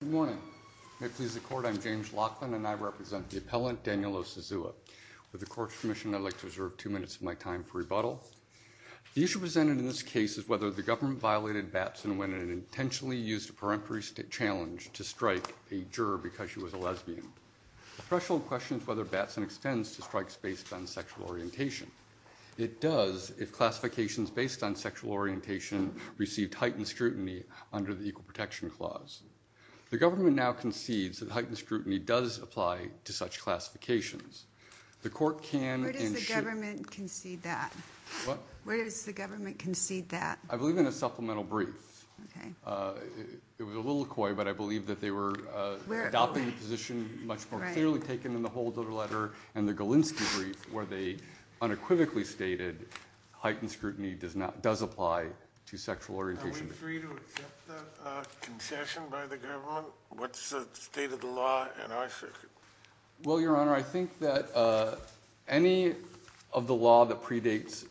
Good morning. May it please the court, I'm James Laughlin and I represent the appellant Daniel Osazuwa. With the court's permission, I'd like to reserve two minutes of my time for rebuttal. The issue presented in this case is whether the government violated Batson when it intentionally used a peremptory challenge to strike a juror because she was a lesbian. The threshold question is whether Batson extends to strikes based on sexual orientation. It does if classifications based on sexual orientation received heightened scrutiny under the Equal Protection Clause. The government now concedes that heightened scrutiny does apply to such classifications. Where does the government concede that? I believe in a supplemental brief. It was a little coy, but I believe that they were adopting a position much more clearly taken in the Holder letter and the Galinsky brief where they unequivocally stated heightened scrutiny does apply to sexual orientation. Are we free to accept that concession by the government? What's the state of the law in our circuit? Well, Your Honor, I think that any of the law that predates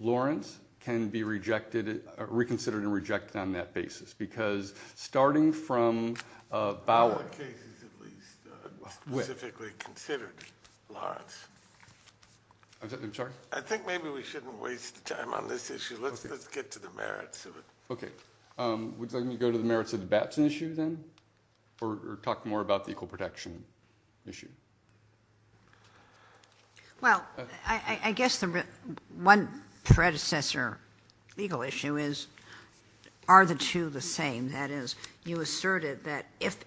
Lawrence can be reconsidered and rejected on that basis because starting from Bauer… In other cases at least, specifically considered Lawrence. I'm sorry? I think maybe we shouldn't waste time on this issue. Let's get to the merits of it. Would you like me to go to the merits of the Batson issue then or talk more about the equal protection issue? Well, I guess the one predecessor legal issue is are the two the same? That is, you asserted that if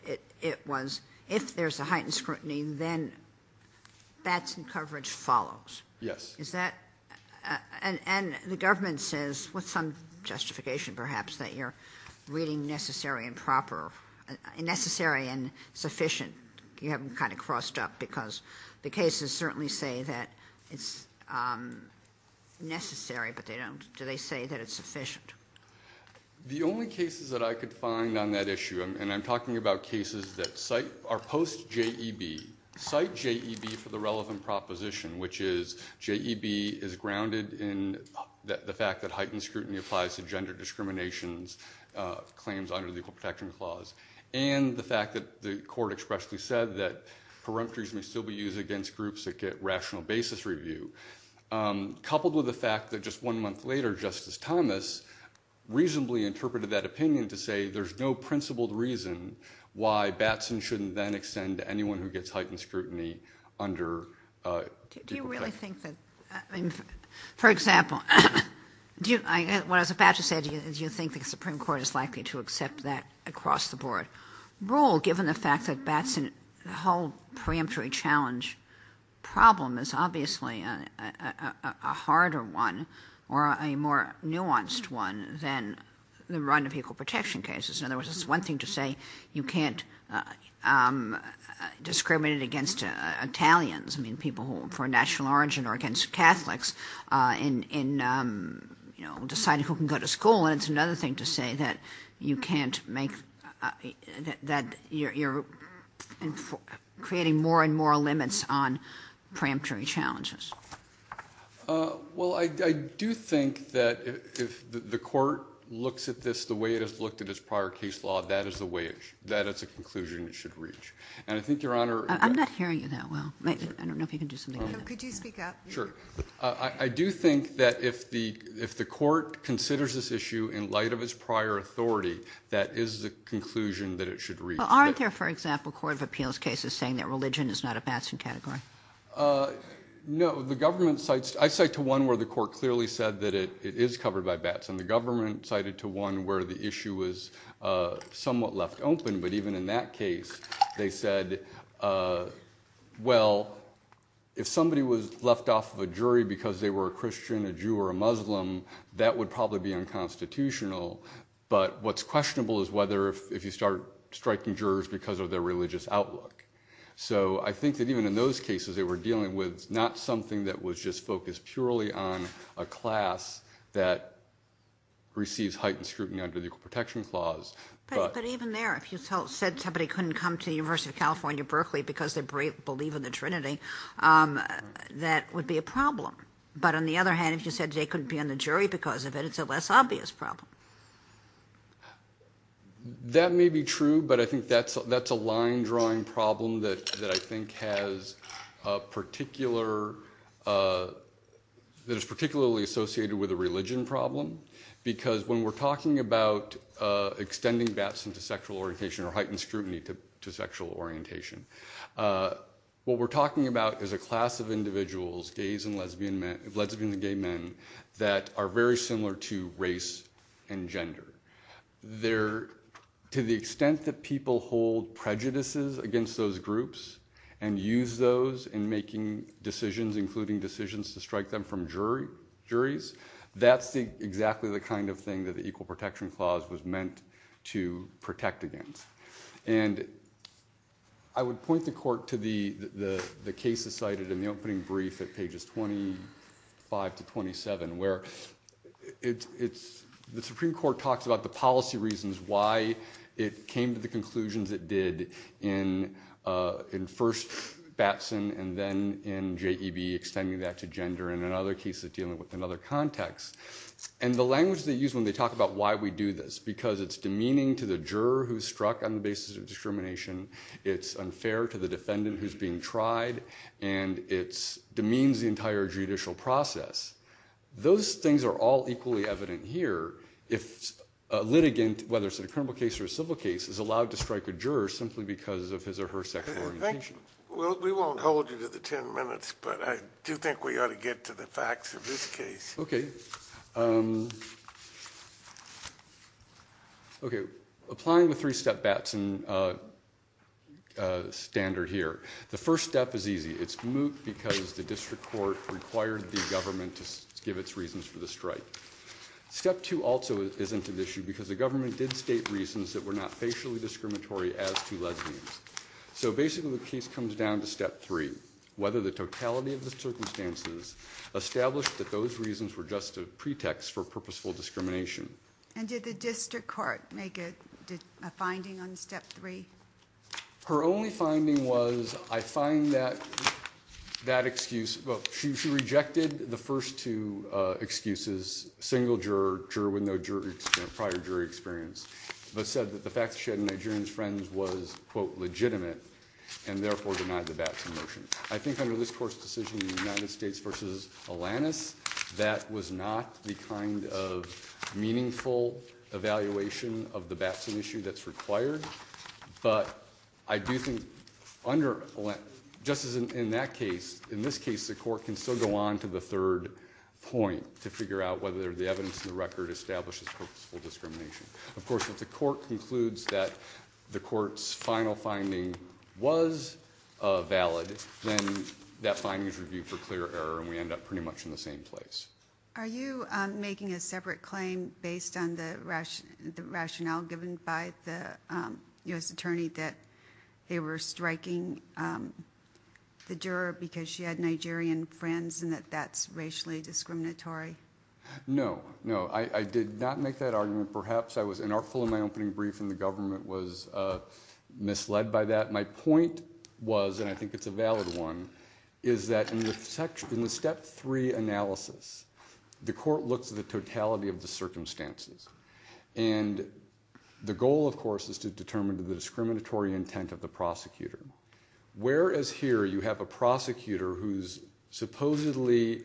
there's a heightened scrutiny, then Batson coverage follows. Yes. And the government says, with some justification perhaps, that you're reading necessary and sufficient. You have them kind of crossed up because the cases certainly say that it's necessary, but do they say that it's sufficient? The only cases that I could find on that issue, and I'm talking about cases that are post-JEB, cite JEB for the relevant proposition, which is JEB is grounded in the fact that heightened scrutiny applies to gender discrimination claims under the Equal Protection Clause, and the fact that the court expressly said that preemptories may still be used against groups that get rational basis review, coupled with the fact that just one month later, Justice Thomas reasonably interpreted that opinion to say there's no principled reason why Batson shouldn't then extend to anyone who gets heightened scrutiny under Equal Protection. Do you really think that, I mean, for example, what I was about to say, do you think the Supreme Court is likely to accept that across the board rule, given the fact that Batson, the whole preemptory challenge problem is obviously a harder one or a more nuanced one than the run of equal protection cases. In other words, it's one thing to say you can't discriminate against Italians, I mean, people who are of national origin, or against Catholics in deciding who can go to school, and it's another thing to say that you can't make, that you're creating more and more limits on preemptory challenges. Well, I do think that if the court looks at this the way it has looked at its prior case law, that is a way, that is a conclusion it should reach. And I think Your Honor... I'm not hearing you that well. I don't know if you can do something else. Could you speak up? Sure. I do think that if the court considers this issue in light of its prior authority, that is the conclusion that it should reach. Well, aren't there, for example, court of appeals cases saying that religion is not a Batson category? No. I cite to one where the court clearly said that it is covered by Batson. The government cited to one where the issue was somewhat left open, but even in that case they said, well, if somebody was left off of a jury because they were a Christian, a Jew, or a Muslim, that would probably be unconstitutional. But what's questionable is whether if you start striking jurors because of their religious outlook. So I think that even in those cases they were dealing with not something that was just focused purely on a class that receives heightened scrutiny under the Equal Protection Clause, but... But even there, if you said somebody couldn't come to the University of California, Berkeley, because they believe in the Trinity, that would be a problem. But on the other hand, if you said they couldn't be on the jury because of it, it's a less obvious problem. That may be true, but I think that's a line-drawing problem that I think has a particular... that is particularly associated with a religion problem, because when we're talking about extending Batson to sexual orientation or heightened scrutiny to sexual orientation, what we're talking about is a class of individuals, gays and lesbians and gay men, that are very similar to race and gender. To the extent that people hold prejudices against those groups and use those in making decisions, including decisions to strike them from juries, that's exactly the kind of thing that the Equal Protection Clause was meant to protect against. And I would point the court to the cases cited in the opening brief at pages 25 to 27, where the Supreme Court talks about the policy reasons why it came to the conclusions it did in first Batson and then in JEB, extending that to gender, and in other cases dealing with another context. And the language they use when they talk about why we do this, it's because it's demeaning to the juror who's struck on the basis of discrimination, it's unfair to the defendant who's being tried, and it demeans the entire judicial process. Those things are all equally evident here if a litigant, whether it's a criminal case or a civil case, is allowed to strike a juror simply because of his or her sexual orientation. Well, we won't hold you to the ten minutes, but I do think we ought to get to the facts of this case. Okay, applying the three-step Batson standard here, the first step is easy. It's moot because the district court required the government to give its reasons for the strike. Step two also isn't an issue because the government did state reasons that were not facially discriminatory as to lesbians. So basically the case comes down to step three, whether the totality of the circumstances established that those reasons were just a pretext for purposeful discrimination. And did the district court make a finding on step three? Her only finding was, I find that excuse, well, she rejected the first two excuses, single juror, juror with no prior jury experience, but said that the fact that she had Nigerian friends was, quote, legitimate, and therefore denied the Batson motion. I think under this court's decision in the United States v. Alanis, that was not the kind of meaningful evaluation of the Batson issue that's required, but I do think under, just as in that case, in this case, the court can still go on to the third point to figure out whether the evidence in the record establishes purposeful discrimination. Of course, if the court concludes that the court's final finding was valid, then that finding is reviewed for clear error and we end up pretty much in the same place. Are you making a separate claim based on the rationale given by the U.S. attorney that they were striking the juror because she had Nigerian friends and that that's racially discriminatory? No, no, I did not make that argument. Perhaps I was inartful in my opening brief and the government was misled by that. My point was, and I think it's a valid one, is that in the step three analysis, the court looks at the totality of the circumstances, and the goal, of course, is to determine the discriminatory intent of the prosecutor. Whereas here you have a prosecutor whose supposedly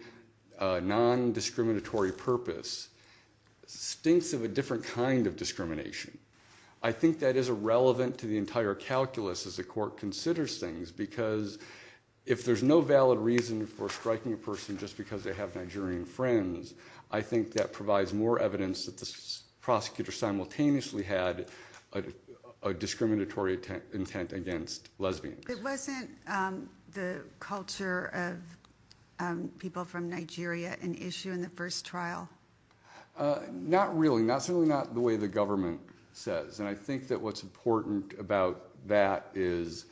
non-discriminatory purpose stinks of a different kind of discrimination, I think that is irrelevant to the entire calculus as the court considers things because if there's no valid reason for striking a person just because they have Nigerian friends, I think that provides more evidence that the prosecutor simultaneously had a discriminatory intent against lesbians. It wasn't the culture of people from Nigeria an issue in the first trial? Not really, certainly not the way the government says, and I think that what's important about that is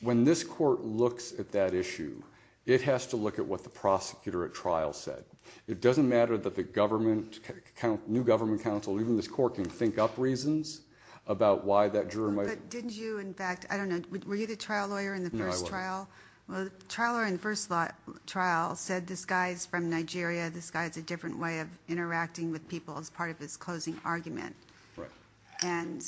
when this court looks at that issue, it has to look at what the prosecutor at trial said. It doesn't matter that the new government counsel, even this court, can think up reasons about why that juror might… But didn't you, in fact, I don't know, were you the trial lawyer in the first trial? No, I wasn't. So you said this guy has a different way of interacting with people as part of his closing argument. Right. And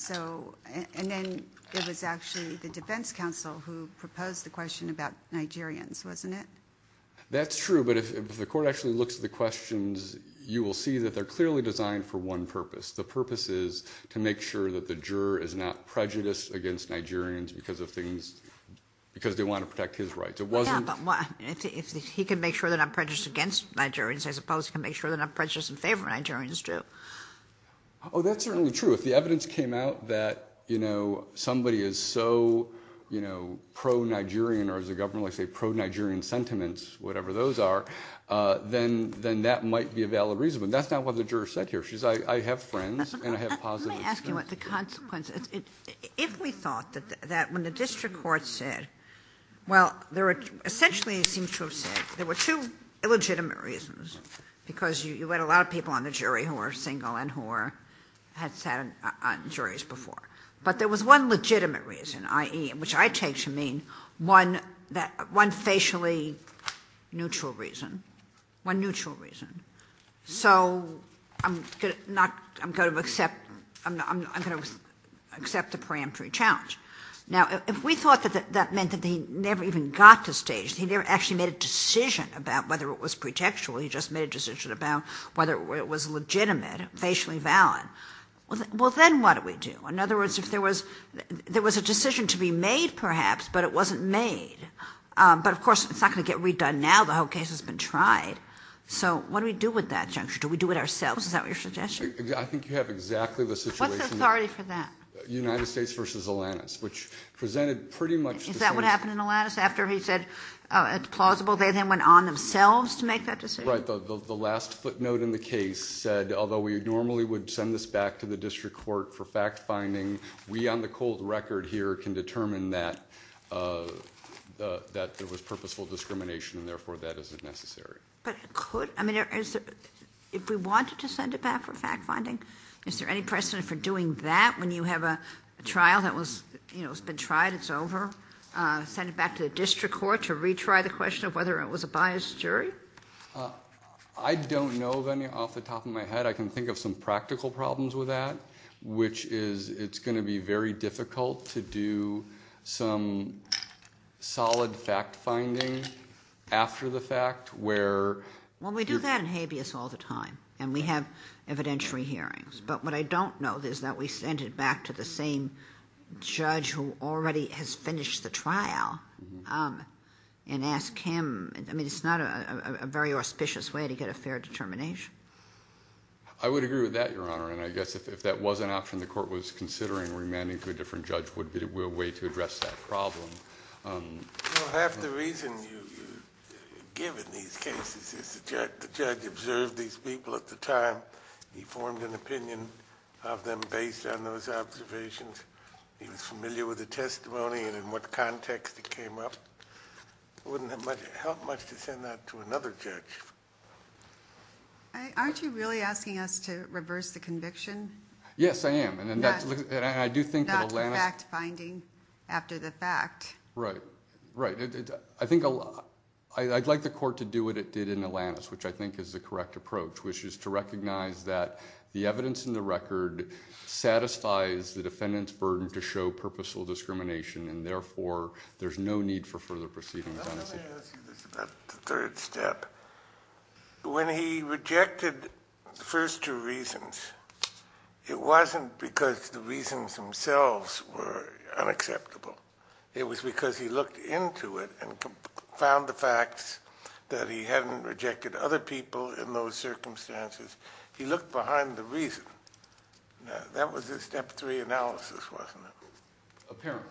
then it was actually the defense counsel who proposed the question about Nigerians, wasn't it? That's true, but if the court actually looks at the questions, you will see that they're clearly designed for one purpose. The purpose is to make sure that the juror is not prejudiced against Nigerians because they want to protect his rights. Yeah, but if he can make sure they're not prejudiced against Nigerians, I suppose he can make sure they're not prejudiced in favor of Nigerians, too. Oh, that's certainly true. If the evidence came out that somebody is so pro-Nigerian, or as the government likes to say, pro-Nigerian sentiments, whatever those are, then that might be a valid reason. But that's not what the juror said here. She said, I have friends and I have positive… Let me ask you what the consequence is. If we thought that when the district court said, well, essentially it seems to have said there were two illegitimate reasons because you had a lot of people on the jury who were single and who had sat on juries before. But there was one legitimate reason, i.e., which I take to mean one facially neutral reason, one neutral reason. So I'm going to accept the preemptory challenge. Now, if we thought that that meant that he never even got to stage, he never actually made a decision about whether it was pretextual. He just made a decision about whether it was legitimate, facially valid. Well, then what do we do? In other words, if there was a decision to be made, perhaps, but it wasn't made. But, of course, it's not going to get redone now. The whole case has been tried. What do we do with that juncture? Do we do it ourselves? Is that what you're suggesting? I think you have exactly the situation. What's the authority for that? United States v. Atlantis, which presented pretty much the same… Is that what happened in Atlantis? After he said it's plausible, they then went on themselves to make that decision? Right. The last footnote in the case said, although we normally would send this back to the district court for fact-finding, we on the cold record here can determine that there was purposeful discrimination and, therefore, that isn't necessary. But it could. If we wanted to send it back for fact-finding, is there any precedent for doing that when you have a trial that has been tried, it's over? Send it back to the district court to retry the question of whether it was a biased jury? I don't know of any off the top of my head. I can think of some practical problems with that, which is it's going to be very difficult to do some solid fact-finding after the fact or… Well, we do that in habeas all the time and we have evidentiary hearings. But what I don't know is that we send it back to the same judge who already has finished the trial and ask him. I mean, it's not a very auspicious way to get a fair determination. I would agree with that, Your Honor, and I guess if that was an option the court was considering, remanding to a different judge would be a way to address that problem. Well, half the reason you give in these cases is the judge observed these people at the time. He formed an opinion of them based on those observations. He was familiar with the testimony and in what context it came up. It wouldn't have helped much to send that to another judge. Aren't you really asking us to reverse the conviction? Yes, I am. Not fact-finding after the fact. Right, right. I'd like the court to do what it did in Alanis, which I think is the correct approach, which is to recognize that the evidence in the record satisfies the defendant's burden to show purposeful discrimination and therefore there's no need for further proceedings on his behalf. Let me ask you this about the third step. When he rejected the first two reasons, it wasn't because the reasons themselves were unacceptable. It was because he looked into it and found the facts that he hadn't rejected other people in those circumstances. He looked behind the reason. That was his step three analysis, wasn't it? Apparently.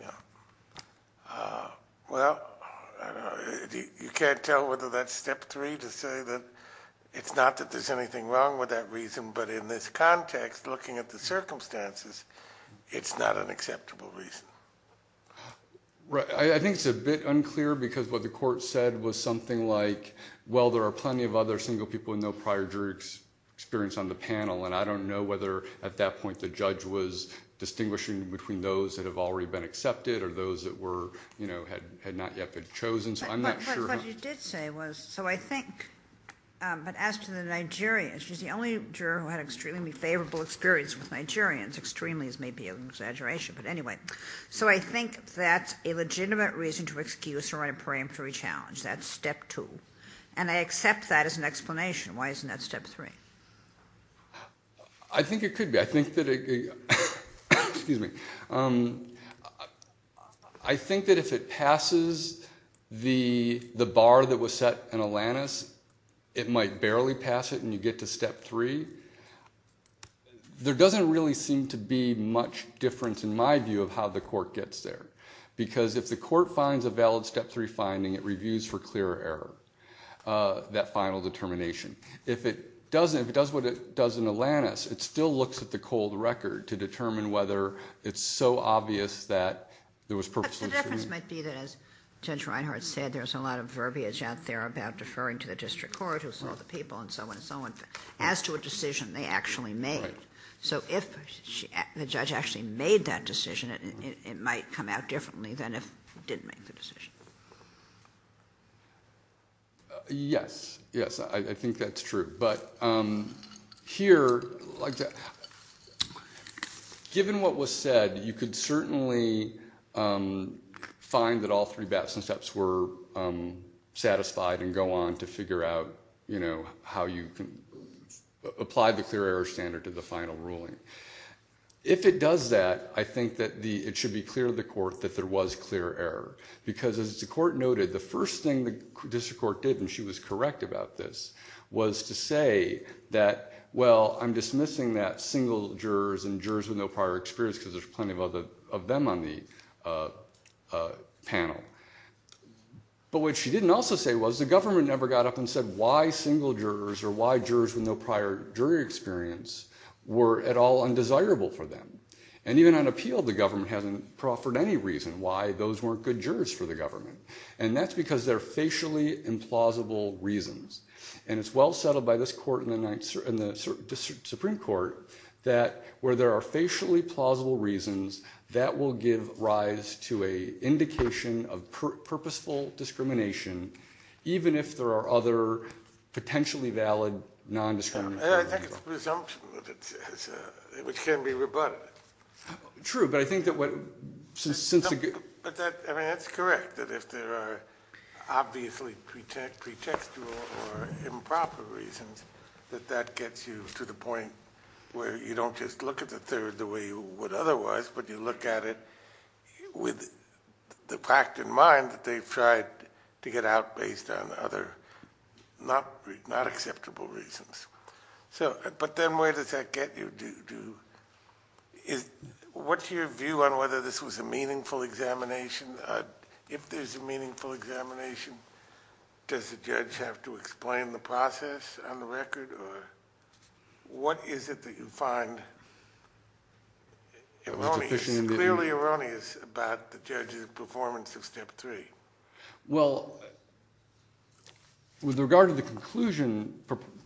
Yeah. Well, you can't tell whether that's step three to say that it's not that there's anything wrong with that reason, but in this context, looking at the circumstances, it's not an acceptable reason. Right. I think it's a bit unclear because what the court said was something like, well, there are plenty of other single people with no prior jury experience on the panel, and I don't know whether at that point the judge was distinguishing between those that have already been accepted or those that were, you know, had not yet been chosen, so I'm not sure. But what you did say was, so I think, but as to the Nigerian, she's the only juror who had extremely favorable experience with Nigerians, extremely is maybe an exaggeration, but anyway. So I think that's a legitimate reason to excuse or write a preemptory challenge. That's step two. And I accept that as an explanation. Why isn't that step three? I think it could be. I think that if it passes the bar that was set in Alanis, it might barely pass it and you get to step three. There doesn't really seem to be much difference in my view of how the court gets there, because if the court finds a valid step three finding, it reviews for clear error that final determination. If it doesn't, if it does what it does in Alanis, it still looks at the cold record to determine whether it's so obvious that there was purposeless. But the difference might be that as Judge Reinhart said, there's a lot of verbiage out there about deferring to the district court who saw the people and so on and so on as to a decision they actually made. So if the judge actually made that decision, it might come out differently than if he didn't make the decision. Yes. Yes, I think that's true. But here, given what was said, you could certainly find that all three steps were satisfied and go on to figure out how you can apply the clear error standard to the final ruling. If it does that, I think that it should be clear to the court that there was clear error. As the court noted, the first thing the district court did, and she was correct about this, was to say that, well, I'm dismissing that single jurors and jurors with no prior experience because there's plenty of them on the panel. But what she didn't also say was the government never got up and said why single jurors or why jurors with no prior jury experience were at all undesirable for them. And even on appeal, the government hasn't proffered any reason why those weren't good jurors for the government. And that's because they're facially implausible reasons. And it's well settled by this court and the Supreme Court that where there are facially plausible reasons, that will give rise to an indication of purposeful discrimination, even if there are other potentially valid non-discriminatory reasons. I think it's presumption, which can be rebutted. True, but I think that what... But that's correct, that if there are obviously pretextual or improper reasons, that that gets you to the point where you don't just look at the third the way you would otherwise, but you look at it with the fact in mind that they've tried to get out based on other not acceptable reasons. But then where does that get you? What's your view on whether this was a meaningful examination? If there's a meaningful examination, does the judge have to explain the process on the record? What is it that you find erroneous, clearly erroneous about the judge's performance of step three? Well, with regard to the conclusion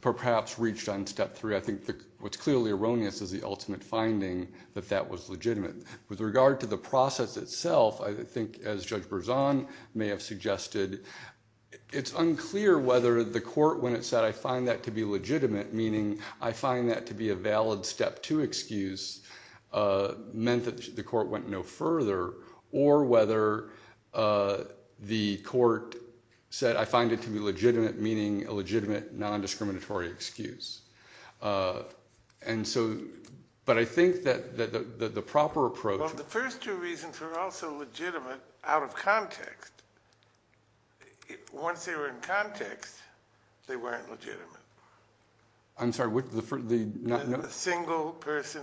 perhaps reached on step three, I think what's clearly erroneous is the ultimate finding that that was legitimate. With regard to the process itself, I think as Judge Berzon may have suggested, it's unclear whether the court, when it said, I find that to be legitimate, meaning I find that to be a valid step two excuse, meant that the court went no further, or whether the court said, I find it to be legitimate, meaning a legitimate non-discriminatory excuse. But I think that the proper approach... Well, the first two reasons were also legitimate out of context. Once they were in context, they weren't legitimate. I'm sorry, what? The single person,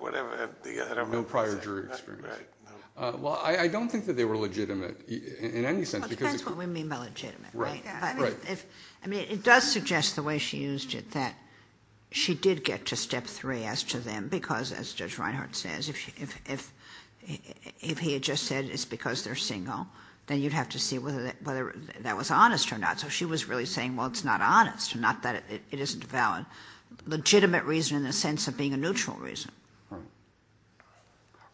whatever... No prior jury experience. Well, I don't think that they were legitimate in any sense. Well, it depends what we mean by legitimate, right? I mean, it does suggest the way she used it, that she did get to step three as to them, because as Judge Reinhart says, if he had just said it's because they're single, then you'd have to see whether that was honest or not. So she was really saying, well, it's not honest, not that it isn't valid. Legitimate reason in the sense of being a neutral reason.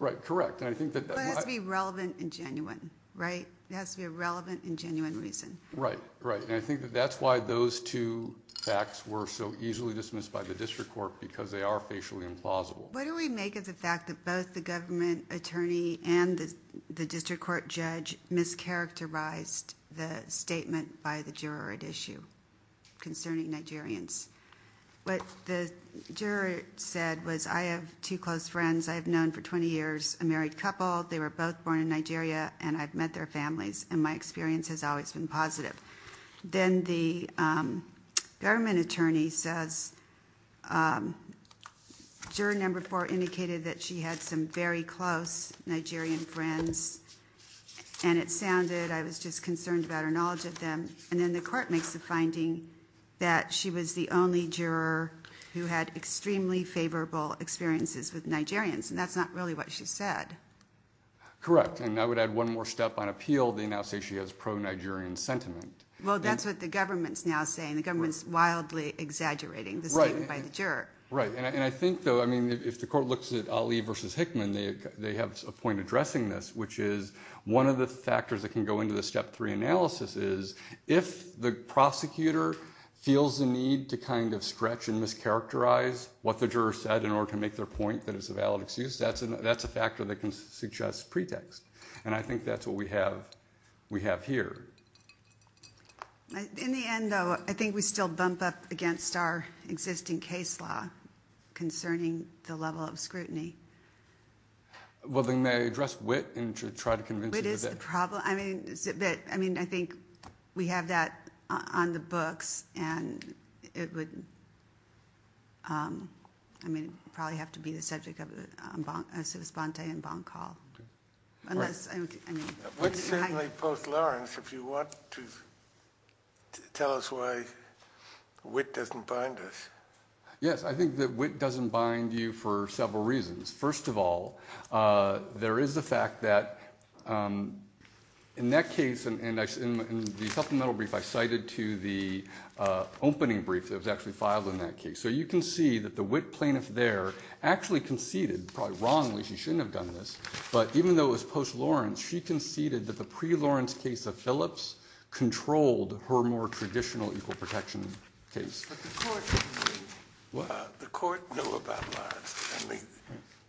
Right, correct. But it has to be relevant and genuine, right? It has to be a relevant and genuine reason. Right, right. And I think that that's why those two facts were so easily dismissed by the district court, because they are facially implausible. What do we make of the fact that both the government attorney and the district court judge mischaracterized the statement by the juror at issue concerning Nigerians? What the juror said was, I have two close friends I have known for 20 years, a married couple, they were both born in Nigeria, and I've met their families, and my experience has always been positive. Then the government attorney says, juror number four indicated that she had some very close Nigerian friends, and it sounded, I was just concerned about her knowledge of them, and then the court makes the finding that she was the only juror who had extremely favorable experiences with Nigerians, and that's not really what she said. Correct, and I would add one more step on appeal. The government attorney can now say she has pro-Nigerian sentiment. Well, that's what the government's now saying. The government's wildly exaggerating the statement by the juror. Right, and I think, though, if the court looks at Ali versus Hickman, they have a point addressing this, which is one of the factors that can go into the step three analysis is if the prosecutor feels the need to kind of stretch and mischaracterize what the juror said in order to make their point that it's a valid excuse, that's a factor that can suggest pretext, and I think that's what we have here. In the end, though, I think we still bump up against our existing case law concerning the level of scrutiny. Well, then, may I address wit and try to convince you of that? Wit is the problem. I mean, I think we have that on the books, and it would, I mean, it would probably have to be the subject of a civis bonte and bond call. Unless, I mean. Wit certainly post Lawrence if you want to tell us why wit doesn't bind us. Yes, I think that wit doesn't bind you for several reasons. First of all, there is the fact that in that case, and in the supplemental brief I cited to the opening brief that was actually filed in that case, so you can see that the wit plaintiff there actually conceded, probably wrongly, she shouldn't have done this, but even though it was post Lawrence, she conceded that the pre-Lawrence case of Phillips controlled her more traditional equal protection case. The court knew about Lawrence. I mean,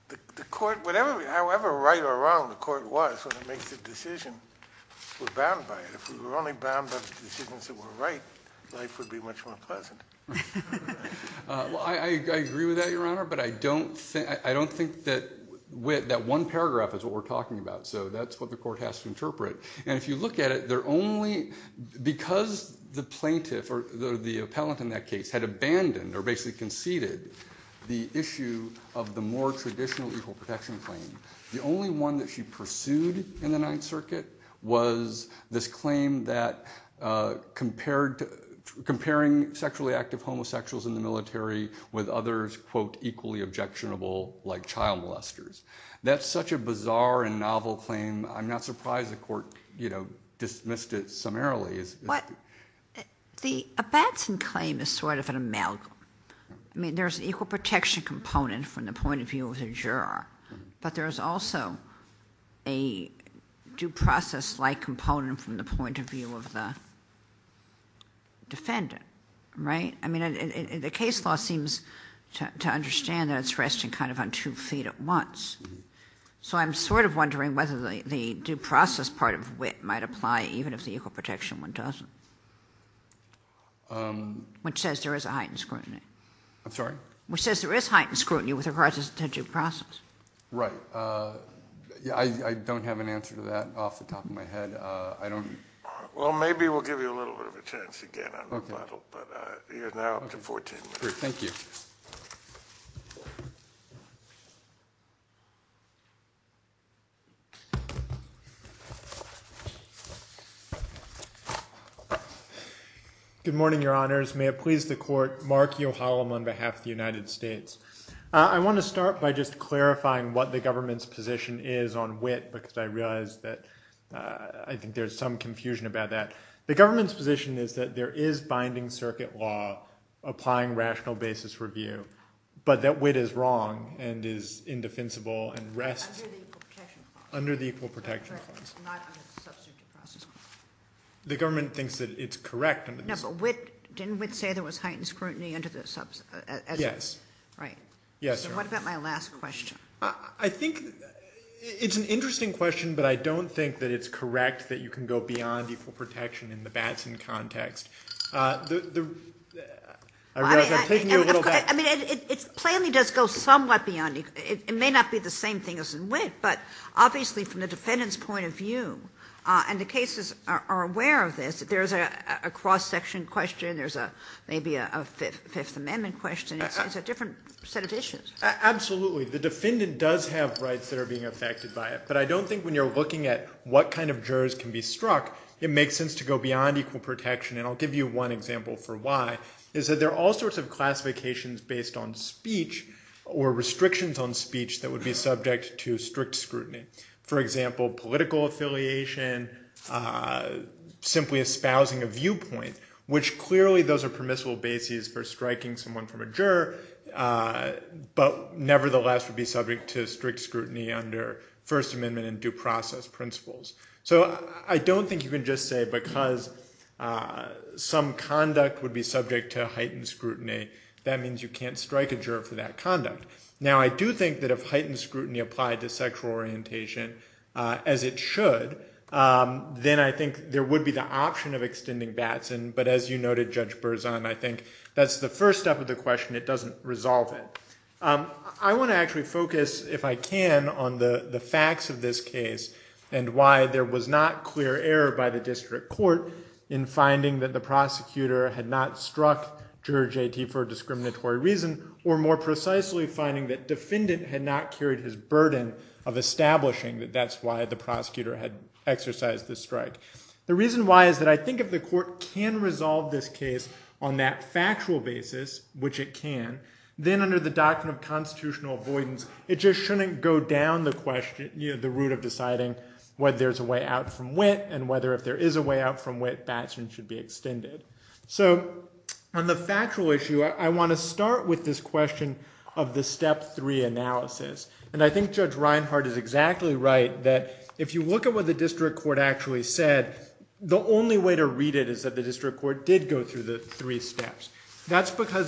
the court, however right or wrong the court was when it makes a decision, we're bound by it. If we were only bound by the decisions that were right, I agree with that, Your Honor, but I don't think that wit, that one paragraph is what we're talking about, so that's what the court has to interpret. And if you look at it, because the plaintiff, or the appellant in that case had abandoned or basically conceded the issue of the more traditional equal protection claim, the only one that she pursued in the Ninth Circuit was this claim that comparing sexually active homosexuals in this country with others, quote, equally objectionable like child molesters. That's such a bizarre and novel claim, I'm not surprised the court dismissed it summarily. What, the Abatson claim is sort of an amalgam. I mean, there's an equal protection component from the point of view of the juror, but there's also a due process-like component from the point of view of the defendant, right? I mean, the case law seems to understand that it's resting kind of on two feet at once. So I'm sort of wondering whether the due process part of wit might apply even if the equal protection one doesn't. Which says there is a heightened scrutiny. I'm sorry? Which says there is heightened scrutiny with regards to due process. Right. I don't have an answer to that off the top of my head. Well, maybe we'll give you a little bit of a chance again on the model. But you're now up to 14 minutes. Thank you. Good morning, Your Honors. May it please the court, Mark Yohalam on behalf of the United States. I want to start by just clarifying what the government's position is on wit because I realize that I think there's some confusion about that. But the government's position is that there is binding circuit law applying rational basis review, but that wit is wrong and is indefensible and rests under the equal protection clause. Correct. It's not under the substitute process clause. The government thinks that it's correct. No, but wit, didn't wit say there was heightened scrutiny under the substitute? Yes. Right. Yes, Your Honor. So what about my last question? I think it's an interesting question, but I don't think that it's correct that you can go beyond equal protection in the Batson context. I realize I'm taking you a little back. I mean, it plainly does go somewhat beyond. It may not be the same thing as in wit, but obviously from the defendant's point of view, and the cases are aware of this, there's a cross-section question, there's maybe a Fifth Amendment question. It's a different set of issues. Absolutely. The defendant does have rights that are being affected by it, but when you're looking at what kind of jurors can be struck, it makes sense to go beyond equal protection, and I'll give you one example for why, is that there are all sorts of classifications based on speech, or restrictions on speech that would be subject to strict scrutiny. For example, political affiliation, simply espousing a viewpoint, which clearly those are permissible bases for striking someone from a juror, but nevertheless would be subject to strict scrutiny under First Amendment and due process principles. So I don't think you can just say, because some conduct would be subject to heightened scrutiny, that means you can't strike a juror for that conduct. Now, I do think that if heightened scrutiny applied to sexual orientation, as it should, then I think there would be the option of extending Batson, but as you noted, Judge Berzon, I think that's the first step of the question. It doesn't resolve it. I want to actually focus, if I can, on the facts of this case, and why there was not clear error by the district court in finding that the prosecutor had not struck Juror J.T. for a discriminatory reason, or more precisely, finding that defendant had not carried his burden of establishing that that's why the prosecutor had exercised the strike. The reason why is that I think if the court can resolve this case on that factual basis, which it can, then under the Doctrine of Constitutional Avoidance, it just shouldn't go down the question, the route of deciding whether there's a way out from wit, and whether if there is a way out from wit, Batson should be extended. So on the factual issue, I want to start with this question of the step three analysis, and I think Judge Reinhart is exactly right that if you look at what the district court actually said, the only way to read it is that the district court says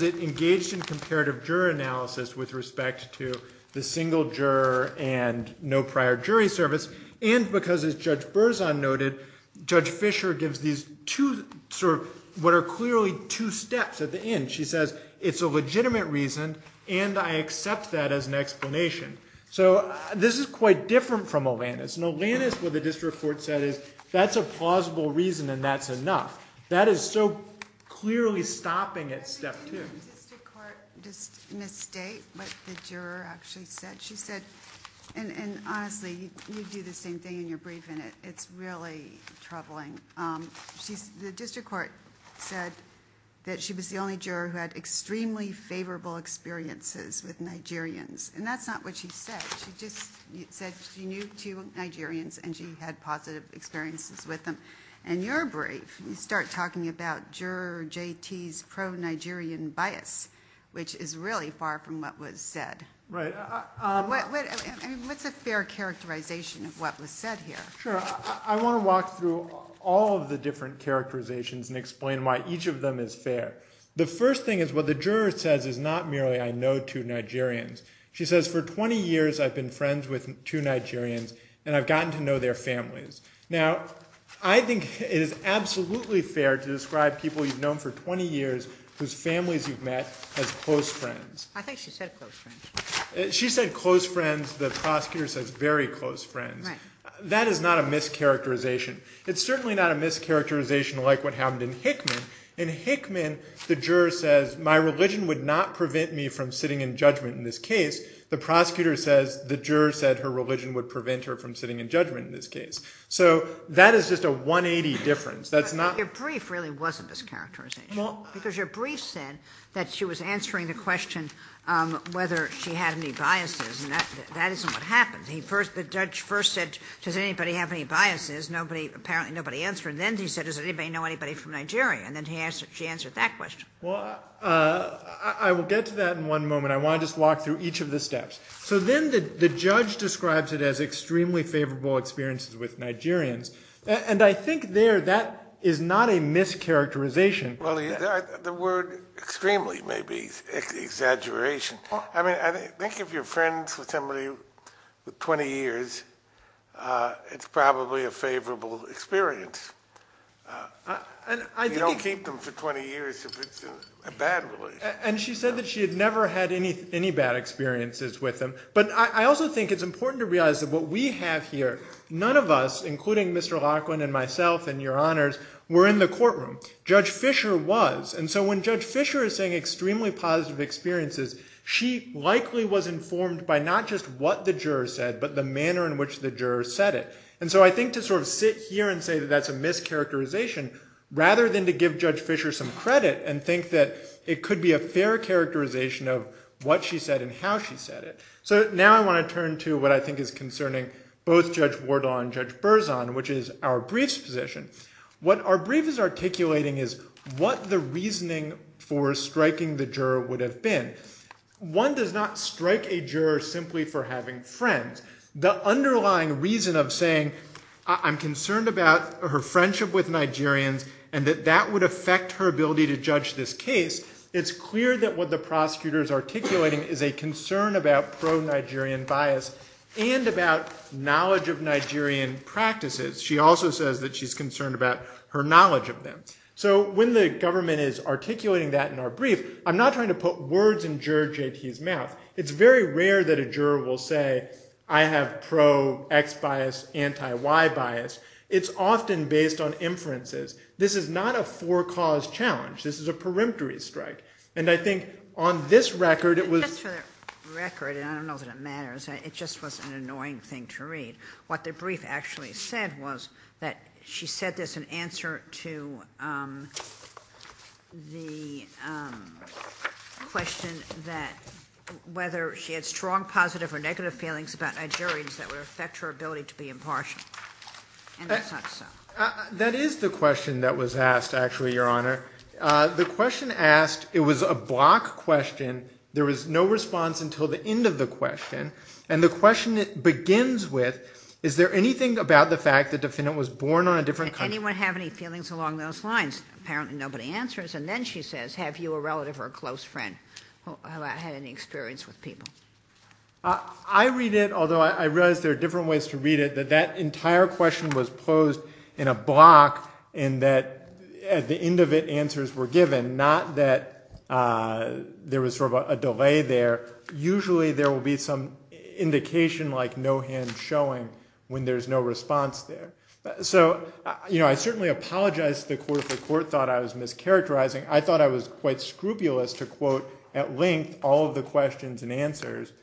it engaged in comparative juror analysis with respect to the single juror and no prior jury service, and because as Judge Berzon noted, Judge Fisher gives these two, sort of, what are clearly two steps at the end. She says it's a legitimate reason, and I accept that as an explanation. So this is quite different from Olanis. In Olanis, what the district court said is that's a plausible reason, and that's enough. That is so clearly stopping at step two. Does the district court just misstate what the juror actually said? She said, and honestly, you do the same thing, and you're brief in it. It's really troubling. The district court said that she was the only juror who had extremely favorable experiences with Nigerians, and that's not what she said. She just said she knew two Nigerians, and she had positive experiences with them, and you're brief. You start talking about juror JT's which is really far from what was said. Right. What's a fair characterization of what was said here? Sure. I want to walk through all of the different characterizations and explain why each of them is fair. The first thing is what the juror says is not merely I know two Nigerians. She says for 20 years, I've been friends with two Nigerians, and I've gotten to know their families. Now, I think it is absolutely fair to describe people you've known for 20 years as close friends. I think she said close friends. She said close friends. The prosecutor says very close friends. That is not a mischaracterization. It's certainly not a mischaracterization like what happened in Hickman. In Hickman, the juror says my religion would not prevent me from sitting in judgment in this case. The prosecutor says the juror said her religion would prevent her from sitting in judgment in this case. That is just a 180 difference. Your brief really wasn't this characterization that she was answering the question whether she had any biases. That isn't what happened. The judge first said, does anybody have any biases? Apparently, nobody answered. Then he said, does anybody know anybody from Nigeria? Then she answered that question. I will get to that in one moment. I want to just walk through each of the steps. Then the judge describes it as extremely favorable experiences with Nigerians. I think there that is not a mischaracterization. The word extremely may be exaggeration. I think if you are friends with somebody for 20 years, it is probably a favorable experience. You don't keep them for 20 years if it is a bad relationship. She said that she had never had any bad experiences with them. I also think it is important to realize that what we have here, none of us, including Mr. Laughlin and myself and your honors, were in the courtroom. Judge Fisher was. When Judge Fisher is saying extremely positive experiences, she likely was informed by not just what the jurors said, but the manner in which the jurors said it. I think to sit here and say that is a mischaracterization, rather than to give Judge Fisher some credit and think that it could be a fair characterization of what she said and how she said it. Now I want to turn to what I think is concerning both Judge Wardlaw and Judge Berzon, which is what the reasoning for striking the juror would have been. One does not strike a juror simply for having friends. The underlying reason of saying I am concerned about her friendship with Nigerians and that that would affect her ability to judge this case, it is clear that what the prosecutor is articulating is a concern about pro-Nigerian bias and about knowledge of Nigerian practices. She also says that she is concerned about her knowledge of them. The government is articulating that in our brief. I am not trying to put words in Juror J.T.'s mouth. It is very rare that a juror will say I have pro-X bias, anti-Y bias. It is often based on inferences. This is not a four-cause challenge. This is a peremptory strike. And I think on this record it was... Just for the record, and I don't know that it matters, it just was an annoying thing to read. What the brief actually said was the question that whether she had strong positive or negative feelings about Nigerians that would affect her ability to be impartial. And that is not so. That is the question that was asked, actually, Your Honor. The question asked, it was a block question. There was no response until the end of the question. And the question begins with is there anything about the fact that the defendant was born on a different country? Did anyone have any feelings along those lines? Apparently nobody answers. And then she says, have you a relative or a close friend who had any experience with people? I read it, although I realize there are different ways to read it, that that entire question was posed in a block and that at the end of it answers were given, not that there was sort of a delay there. Usually there will be some indication like no hand showing when there's no response there. So I certainly apologize that the court thought I was mischaracterizing. I thought I was quite scrupulous to quote at length all of the questions and answers.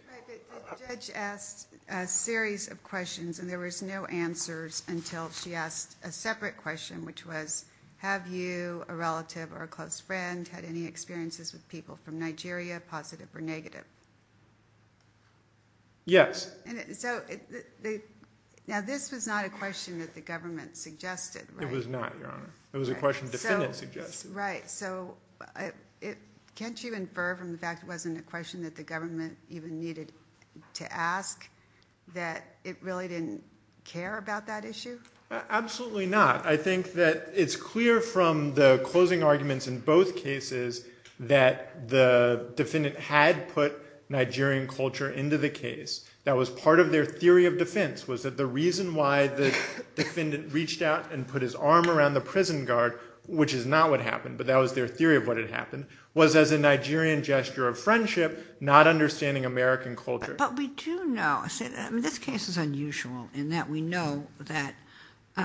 The judge asked a series of questions and there was no answers until she asked a separate question which was have you a relative or a close friend had any experiences with people from Nigeria, positive or negative? Yes. Now this was not a question that the government suggested, right? It was not, Your Honor. It was a question the defendant suggested. Right, so can't you infer from the fact it wasn't a question that the government even needed to ask that it really didn't care about that issue? Absolutely not. I think that it's clear from the closing arguments in both cases that the defendant had put Nigerian culture into the case and that was part of their theory of defense was that the reason why the defendant reached out and put his arm around the prison guard which is not what happened but that was their theory of what had happened was as a Nigerian gesture of friendship not understanding American culture. But we do know, this case is unusual in that we know that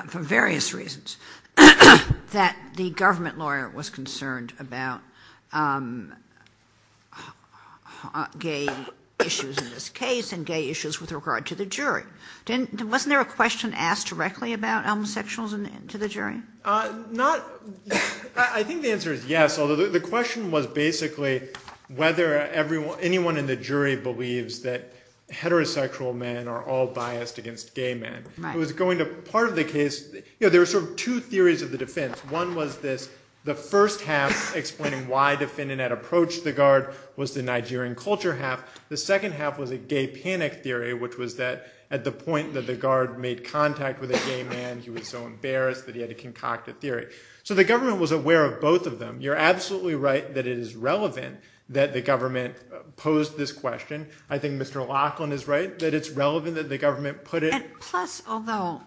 for various reasons that the government lawyer was concerned about gay issues in this case with regard to the jury. Wasn't there a question asked directly about homosexuals to the jury? Not... I think the answer is yes although the question was basically whether anyone in the jury believes that heterosexual men are all biased against gay men. It was going to, part of the case, there were sort of two theories of the defense. One was this, the first half explaining why the defendant had approached the guard which was that at the point that the guard made contact with a gay man he was so embarrassed that he had to concoct a theory. So the government was aware of both of them. You're absolutely right that it is relevant that the government posed this question. I think Mr. Laughlin is right that it's relevant that the government put it... And plus, although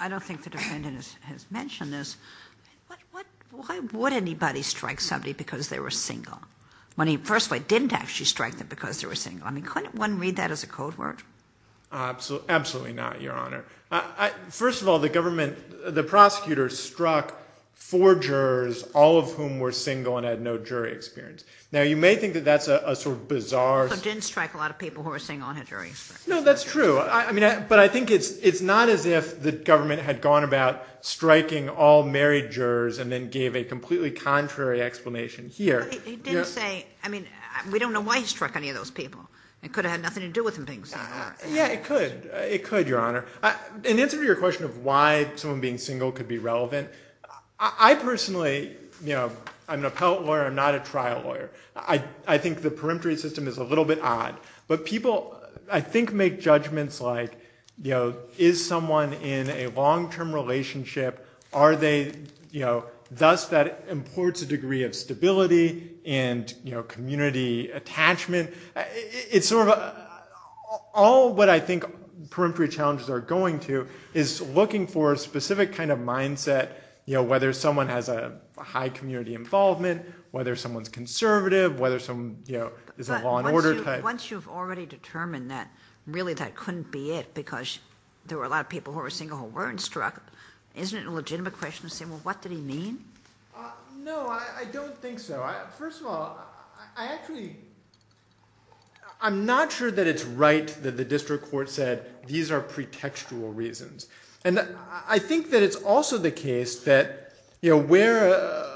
I don't think the defendant has mentioned this, why would anybody strike somebody who was single? Absolutely not, Your Honor. First of all, the government, the prosecutor struck four jurors all of whom were single and had no jury experience. Now you may think that that's a sort of bizarre... So he didn't strike a lot of people who were single and had no jury experience. No, that's true. But I think it's not as if the government had gone about striking all married jurors and then gave a completely different answer to that. Yeah, it could, Your Honor. In answer to your question of why someone being single could be relevant, I personally, I'm an appellate lawyer, I'm not a trial lawyer. I think the peremptory system is a little bit odd. But people, I think, make judgments like is someone in a long-term relationship? Are they... Does that import a degree of stability and community attachment? All what I think peremptory challenges are going to is looking for a specific kind of mindset, whether someone has a high community involvement, whether someone's conservative, whether someone is a law and order type. But once you've already determined that really that couldn't be it because there were a lot of people who were single who weren't struck, isn't it a legitimate question to say, well, what did he mean? No, I don't think so. First of all, I actually, in my district court, said these are pretextual reasons. And I think that it's also the case that where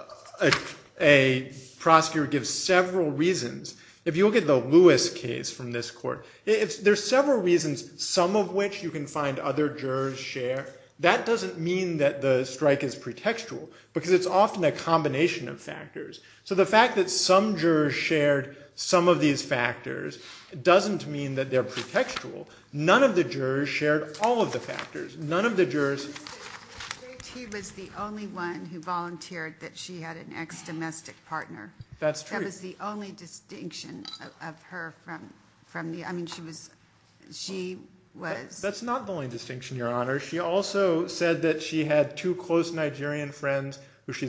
a prosecutor gives several reasons, if you look at the Lewis case from this court, there's several reasons, some of which you can find other jurors share. That doesn't mean that the strike is pretextual because it's often a combination of factors. So the fact that some jurors shared some of the factors is pretextual. None of the jurors shared all of the factors. None of the jurors... He was the only one who volunteered that she had an ex-domestic partner. That's true. That was the only distinction of her from the, I mean, she was... That's not the only distinction, Your Honor. She also said that she had two close Nigerian friends who came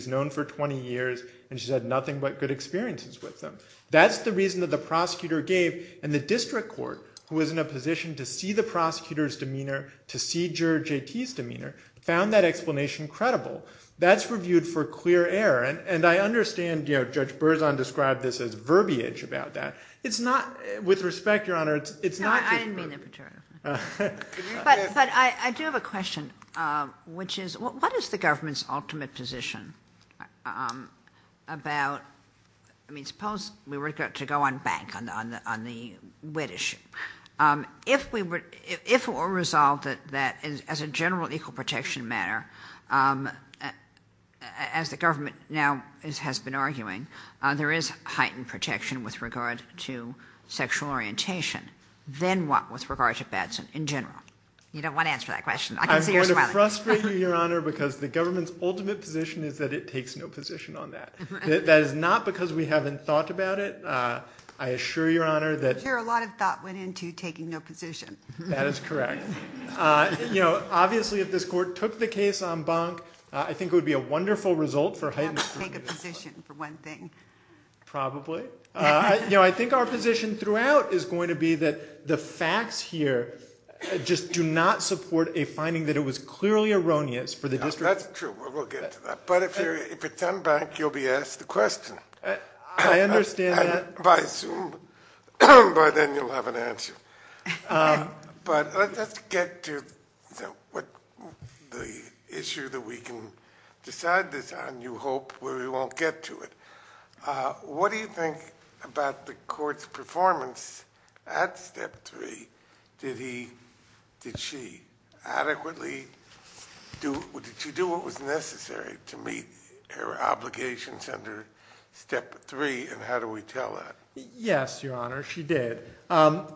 to see the prosecutor's demeanor, to see Juror JT's demeanor, found that explanation credible. That's reviewed for clear error. And I understand Judge Berzon described this as verbiage about that. It's not, with respect, Your Honor, it's not... No, I didn't mean that pejoratively. But I do have a question, which is what is the government's ultimate position about, I mean, suppose we were to go unbanked on the wet issue. If we were resolved that as a general equal protection matter, as the government now has been arguing, there is heightened protection with regard to sexual orientation, then what with regard to Batson in general? You don't want to answer that question. I can see you're smiling. I'm going to frustrate you, Your Honor, because the government's ultimate position is that it takes no position on that. That is not because we haven't thought about it. I assure Your Honor that... I'm sure a lot of thought went into taking no position. That is correct. Obviously, if this court took the case unbanked, I think it would be a wonderful result for heightened protection. It would take a position for one thing. Probably. I think our position throughout is going to be that the facts here just do not support a finding that it was clearly erroneous for the district... That's true. We'll get to that. If it's unbanked, you'll be asked the question. I understand that. I assume by then you'll have an answer. Let's get to the issue that we can decide this on, you hope, where we won't get to it. What do you think about the court's performance at Step 3? Did she adequately do what was necessary to meet her obligations under Step 3, and how do we tell that? Yes, Your Honor, she did. I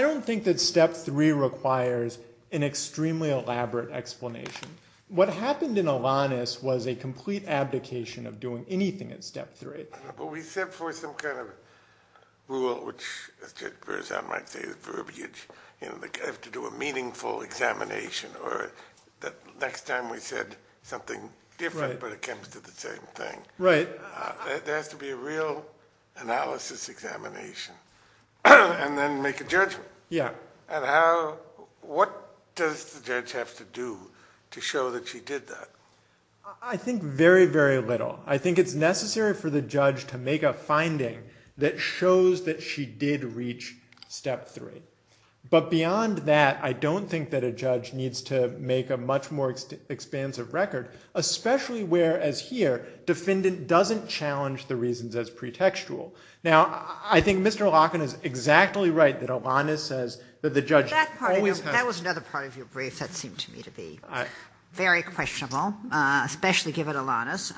don't think that Step 3 requires an extremely elaborate explanation. What happened in Alanis was a complete abdication of doing anything at Step 3. But we set forth some kind of rule, which I might say is verbiage. You have to do a meaningful examination or the next time we said something different but it comes to the same thing. There has to be a real analysis examination and then make a judgment. What does the judge have to do to show that she did that? I think very, very little. I think it's necessary for the judge to make a finding that shows that she did reach Step 3. But beyond that, I don't think that a judge needs to make a much more expansive record, especially whereas here defendant doesn't challenge the reasons as pretextual. Now, I think Mr. Locken is exactly right that Alanis says that the judge always has That was another part of your brief that seemed to me to be very questionable, especially given Alanis.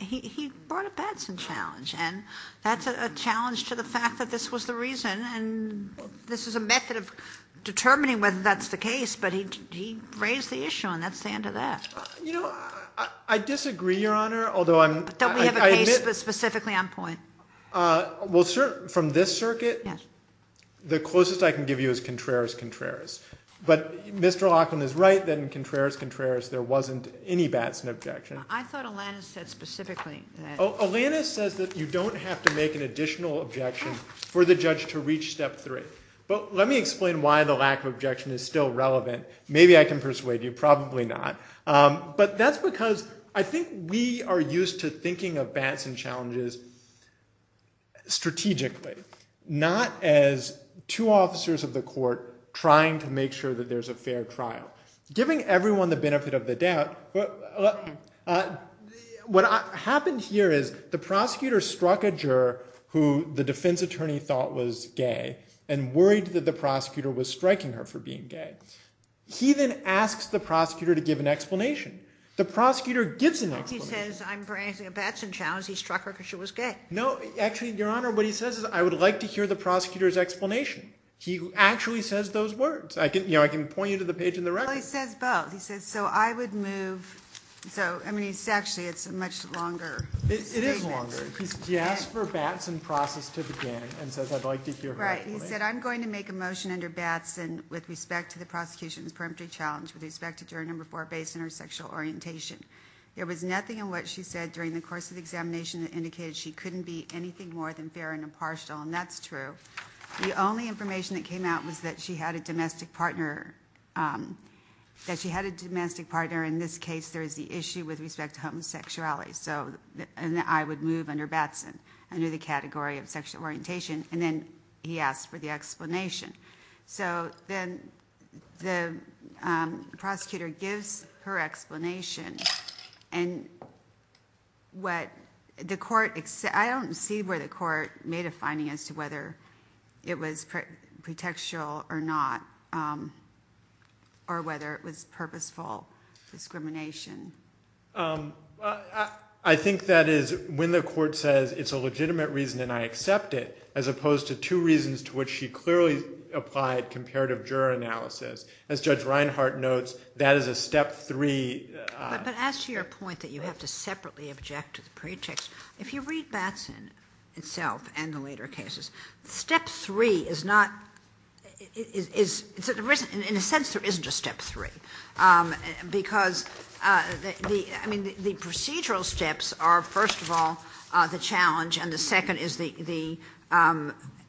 He brought up that as a challenge and that's a challenge to the fact that this was the reason and this is a method of determining whether that's the case, but he raised the issue and that's the end of that. You know, I disagree, Your Honor, although I admit Don't we have a case specifically on point? From this circuit, the closest I can give you is Contreras-Contreras. But Mr. Locken is right that in Contreras-Contreras there wasn't any Batson objection. I thought Alanis said specifically that there wasn't any Batson objection. So Alanis says that you don't have to make an additional objection for the judge to reach step three. But let me explain why the lack of objection is still relevant. Maybe I can persuade you, probably not. But that's because I think we are used to thinking of Batson challenges strategically, not as two things. The first thing is the prosecutor struck a juror who the defense attorney thought was gay and worried that the prosecutor was striking her for being gay. He then asks the prosecutor to give an explanation. The prosecutor gives an explanation. He says I'm bringing a Batson challenge. He struck her because she was gay. I would like to hear the prosecutor's explanation. He actually says those words. I can point you to the page in the record. He says both. It's a much longer statement. He asks for Batson process to begin. He said I'm going to make a motion under Batson with respect to the prosecution's challenge. There was nothing more than fair and impartial. That's true. The only information that came out was that she had a domestic partner. In this case there is the issue with respect to homosexuality. I would move under Batson under the category of sexual orientation. He asked for the explanation. The only that she had a domestic partner. I don't see where the court made a finding as to whether it was pretextual or not. Or whether it was purposeful discrimination. I think that is when the court says it's a legitimate reason and I accept it as opposed to two reasons to which she clearly applied comparative juror analysis. As Judge Reinhart notes, that is a step three. But as to your point that you have to separately object to the pretext, if you read Batson itself and the later cases, step three. The procedural steps are first of all the challenge and the second is the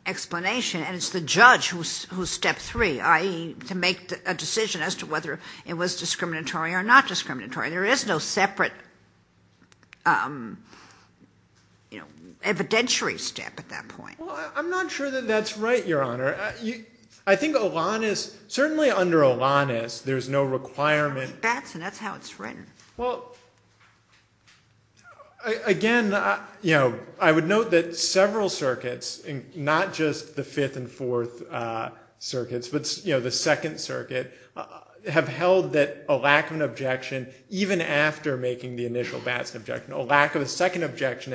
explanation. It's the judge who is step three, i.e., to make a decision as to whether it was discriminatory or not discriminatory. There is no separate evidentiary step at step three. I think certainly under Olanis there is no requirement. Again, I would note that several circuits, not just the fifth and fourth circuits, but the second circuit, have held that a lack of an objection even after making the initial Batson objection, a lack of an objection.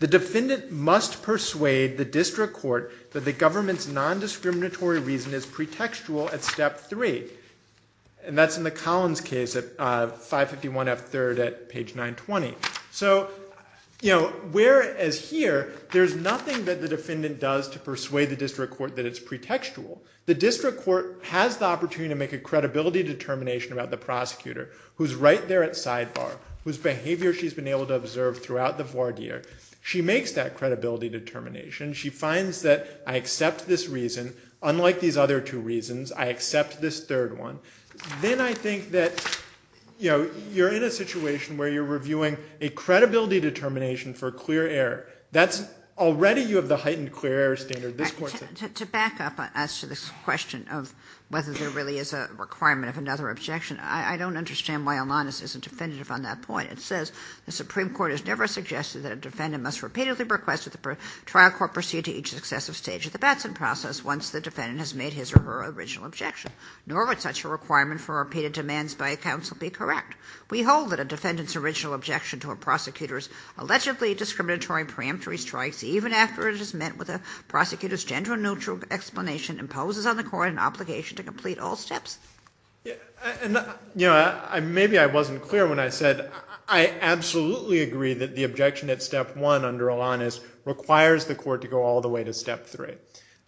The defendant must persuade the district court that the government's nondiscriminatory reason is pretextual at step three. That's in the Collins case at page 920. Whereas here there is nothing that the defendant does to persuade the district court. I absolutely agree that the objection at step one under Olanis requires the court to go all the way to step three.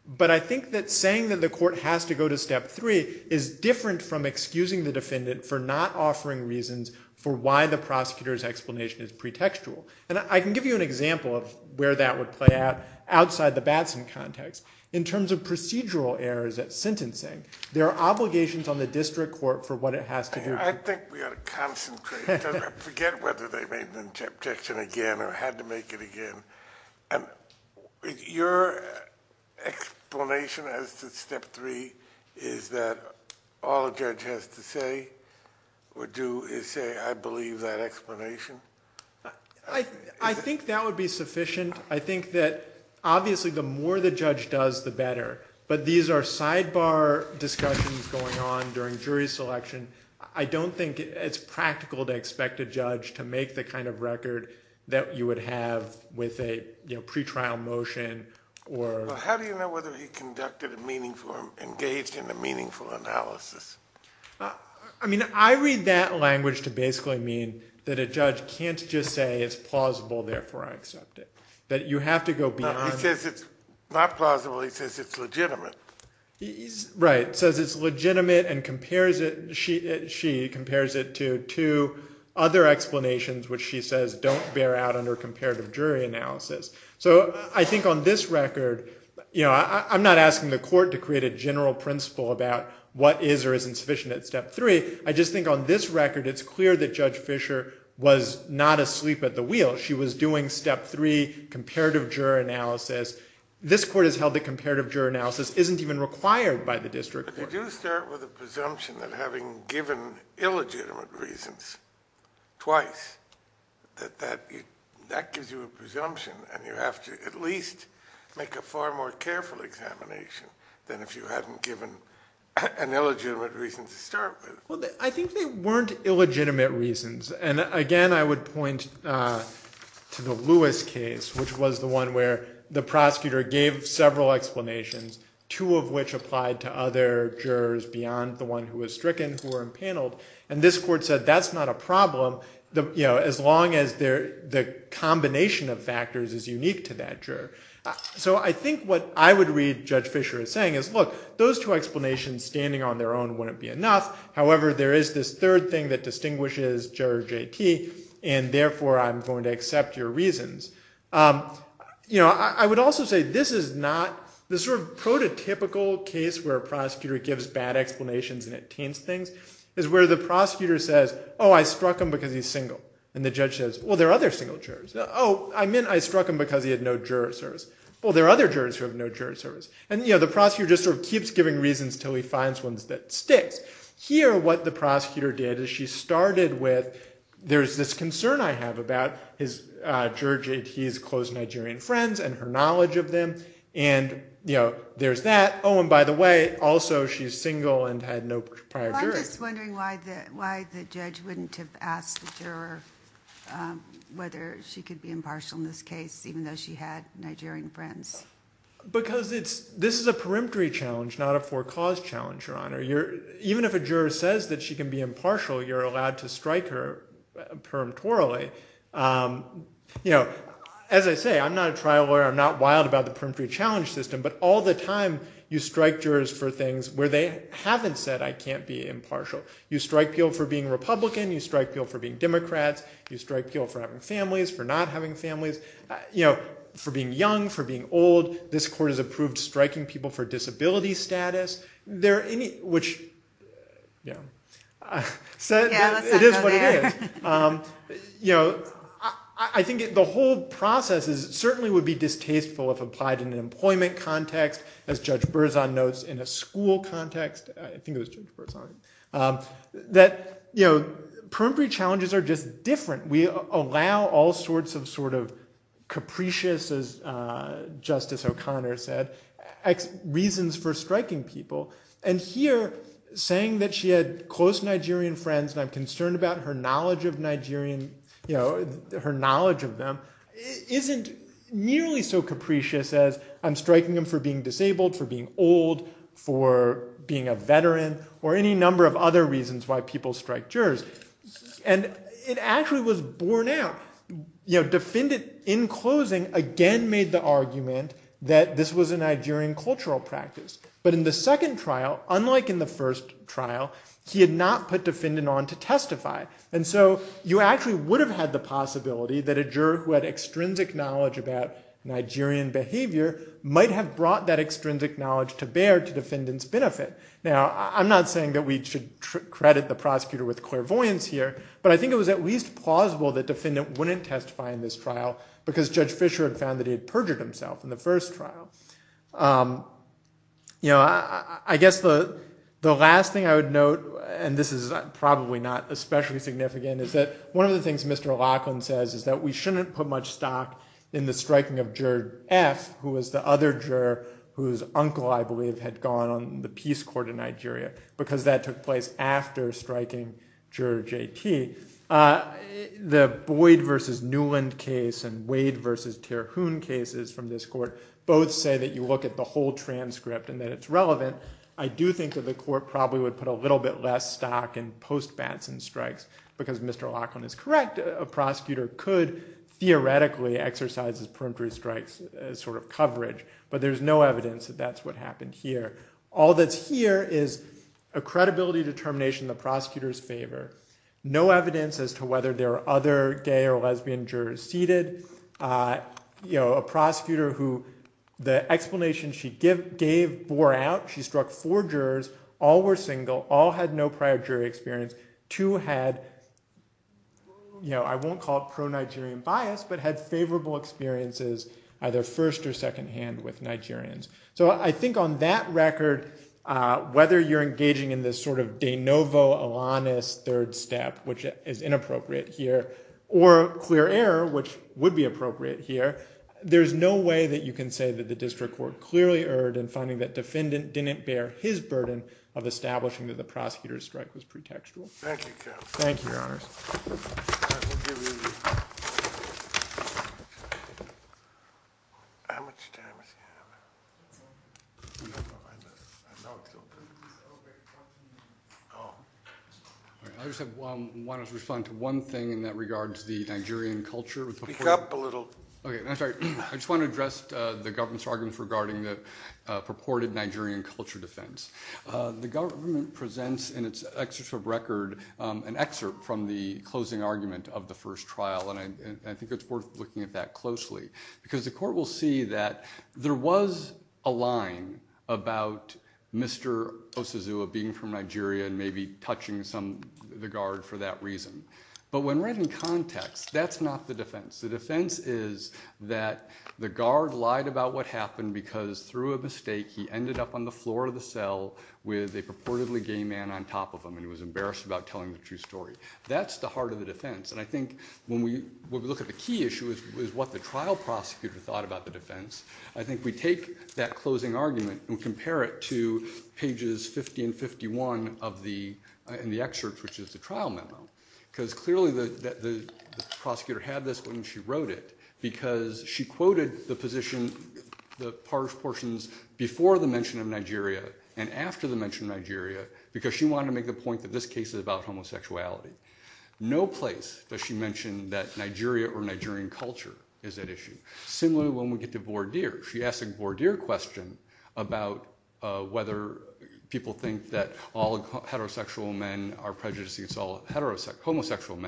But I think that saying that the court has to go to step three is different from excusing the defendant for not offering reasons for why the prosecutor's explanation is pretextual. I can give you an example of where that would play out outside the Batson context. In terms of procedural errors at sentencing, there are obligations on the district court for what it has to do. I think we ought to look at that. I don't think it's practical to expect a judge to make the kind of record that you would a pretrial motion. How do you know whether he engaged in a meaningful analysis? I mean, I don't know. I read that language to basically mean that a judge can't just say it's plausible, therefore I accept it. He says it's not plausible, he says it's legitimate. He compares it to other explanations which she says don't bear out under comparative jury analysis. I'm not asking the court to create a general principle about what is or isn't sufficient at step three. I just think on this record it's clear that Judge Fisher was not asleep at the wheel. She was doing step three comparative jury analysis. This court said that gives you a presumption and you have to at least make a far more careful examination than if you hadn't given an illegitimate reason to start with. I think they weren't illegitimate reasons. Again, I would point to the Lewis case which was the one where the prosecutor gave several explanations, two of which applied to other jurors beyond the one who was stricken, who were impaneled, and this court said that's not a problem as long as the combination of factors is unique to that juror. I think what I would read Judge Fisher as saying is look, those two explanations standing on their own wouldn't be enough. However, there is this third thing that distinguishes Juror JT and therefore I'm going to accept your reasons. I would also say this is not the sort of prototypical case where a prosecutor gives bad explanations and attains bad conclusions. It's where the prosecutor says I struck him because he's single. The judge says there are other single jurors. I meant I struck him because he had no jurors. The prosecutor keeps giving reasons until he finds one that sticks. Here what the prosecutor did is she started with there's this concern I have about his close Nigerian friends and her knowledge of them. There's that. Oh, and by the way, also she's single and had no prior jurors. I'm just wondering why the judge wouldn't have asked the juror whether she could be impartial in this case even though she had Nigerian friends. Because this is a perimetry challenge, not a for-cause challenge. Even if a juror says she can be impartial, you're allowed to strike her perimtorally. As I say, I'm not wild about the perimetry challenge system, but all the time you strike jurors for things where they haven't said I can't be impartial. You strike people for disability status. It is what it is. I think the whole process certainly would be distasteful if applied in an employment context, as Judge Berzon notes. Perimetry challenges are just different. We allow all sorts of capricious as Justice O'Connor said, reasons for striking people. Here, saying that she had close Nigerian friends and I'm concerned about her knowledge of them isn't nearly so capricious as I'm striking them for being disabled, for being old, for being a veteran, or any number of other reasons why people are able to testify. This was a Nigerian cultural practice. In the second trial, unlike in the first trial, he had not put defendant on to testify. You would have had the possibility that a juror who had extrinsic knowledge might have brought that knowledge to bear to the defendant's benefit. I think it was plausible that the defendant wouldn't testify in this trial because he had perjured himself. I guess the last thing I would note is that one of the things Mr. Laughlin says is that we shouldn't put much stock in the striking of juror F who was the other juror whose uncle had gone to the peace court in Nigeria. The Boyd versus Newland case and Wade versus Terhune case say that you look at the whole transcript and that it's relevant, I do think the court would put less stock in strikes because Mr. Laughlin is correct. There's no evidence that's what happened here. All that's here is a credibility determination the prosecutors favor. No evidence as to whether there are other gay or lesbian jurors seated. A prosecutor who the explanation she gave bore out, she struck four jurors, all were single, all had no prior jury experience, two had I won't call it pro-Nigerian bias, but had favorable experiences either first or second hand with Nigerians. So I think on that record whether you're engaging in this sort of third step which is inappropriate here or clear error which would be appropriate here, there's no way that you can say that the district court clearly erred in finding that the defendant didn't bear his burden of establishing that the prosecutor strike was pretextual. Thank you your honors. I just want to respond to one thing in that regard to the Nigerian culture. I just want to address the government's arguments regarding the Nigerian culture defense. The government presents an excerpt from the closing argument of the first trial and I think it's worth looking at that closely because the court will see that there was a line about Mr. Osizua being from Nigeria and maybe touching the guard for that reason. But when read in context, that's not the defense. The defense is that the guard lied about what happened because through a mistake he ended up on the floor of the court. I think we take that closing argument and compare it to pages 50 and 51 of the excerpt which is the trial memo. Clearly the prosecutor had this when she wrote it because she quoted the portions before the mention of Nigeria and after the mention of Nigeria because she wanted to make the point that this case is about homosexuality. No place does she mention that Nigeria or Nigerian culture is at issue. Similarly when we get to Bourdier. She asked a Bourdier question about whether people think that all heterosexual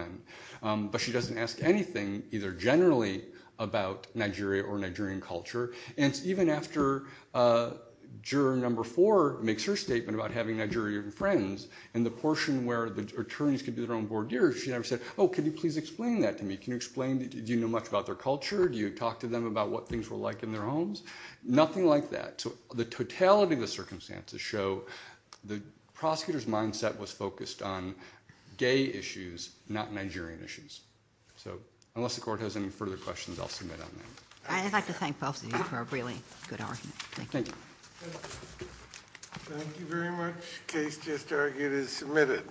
men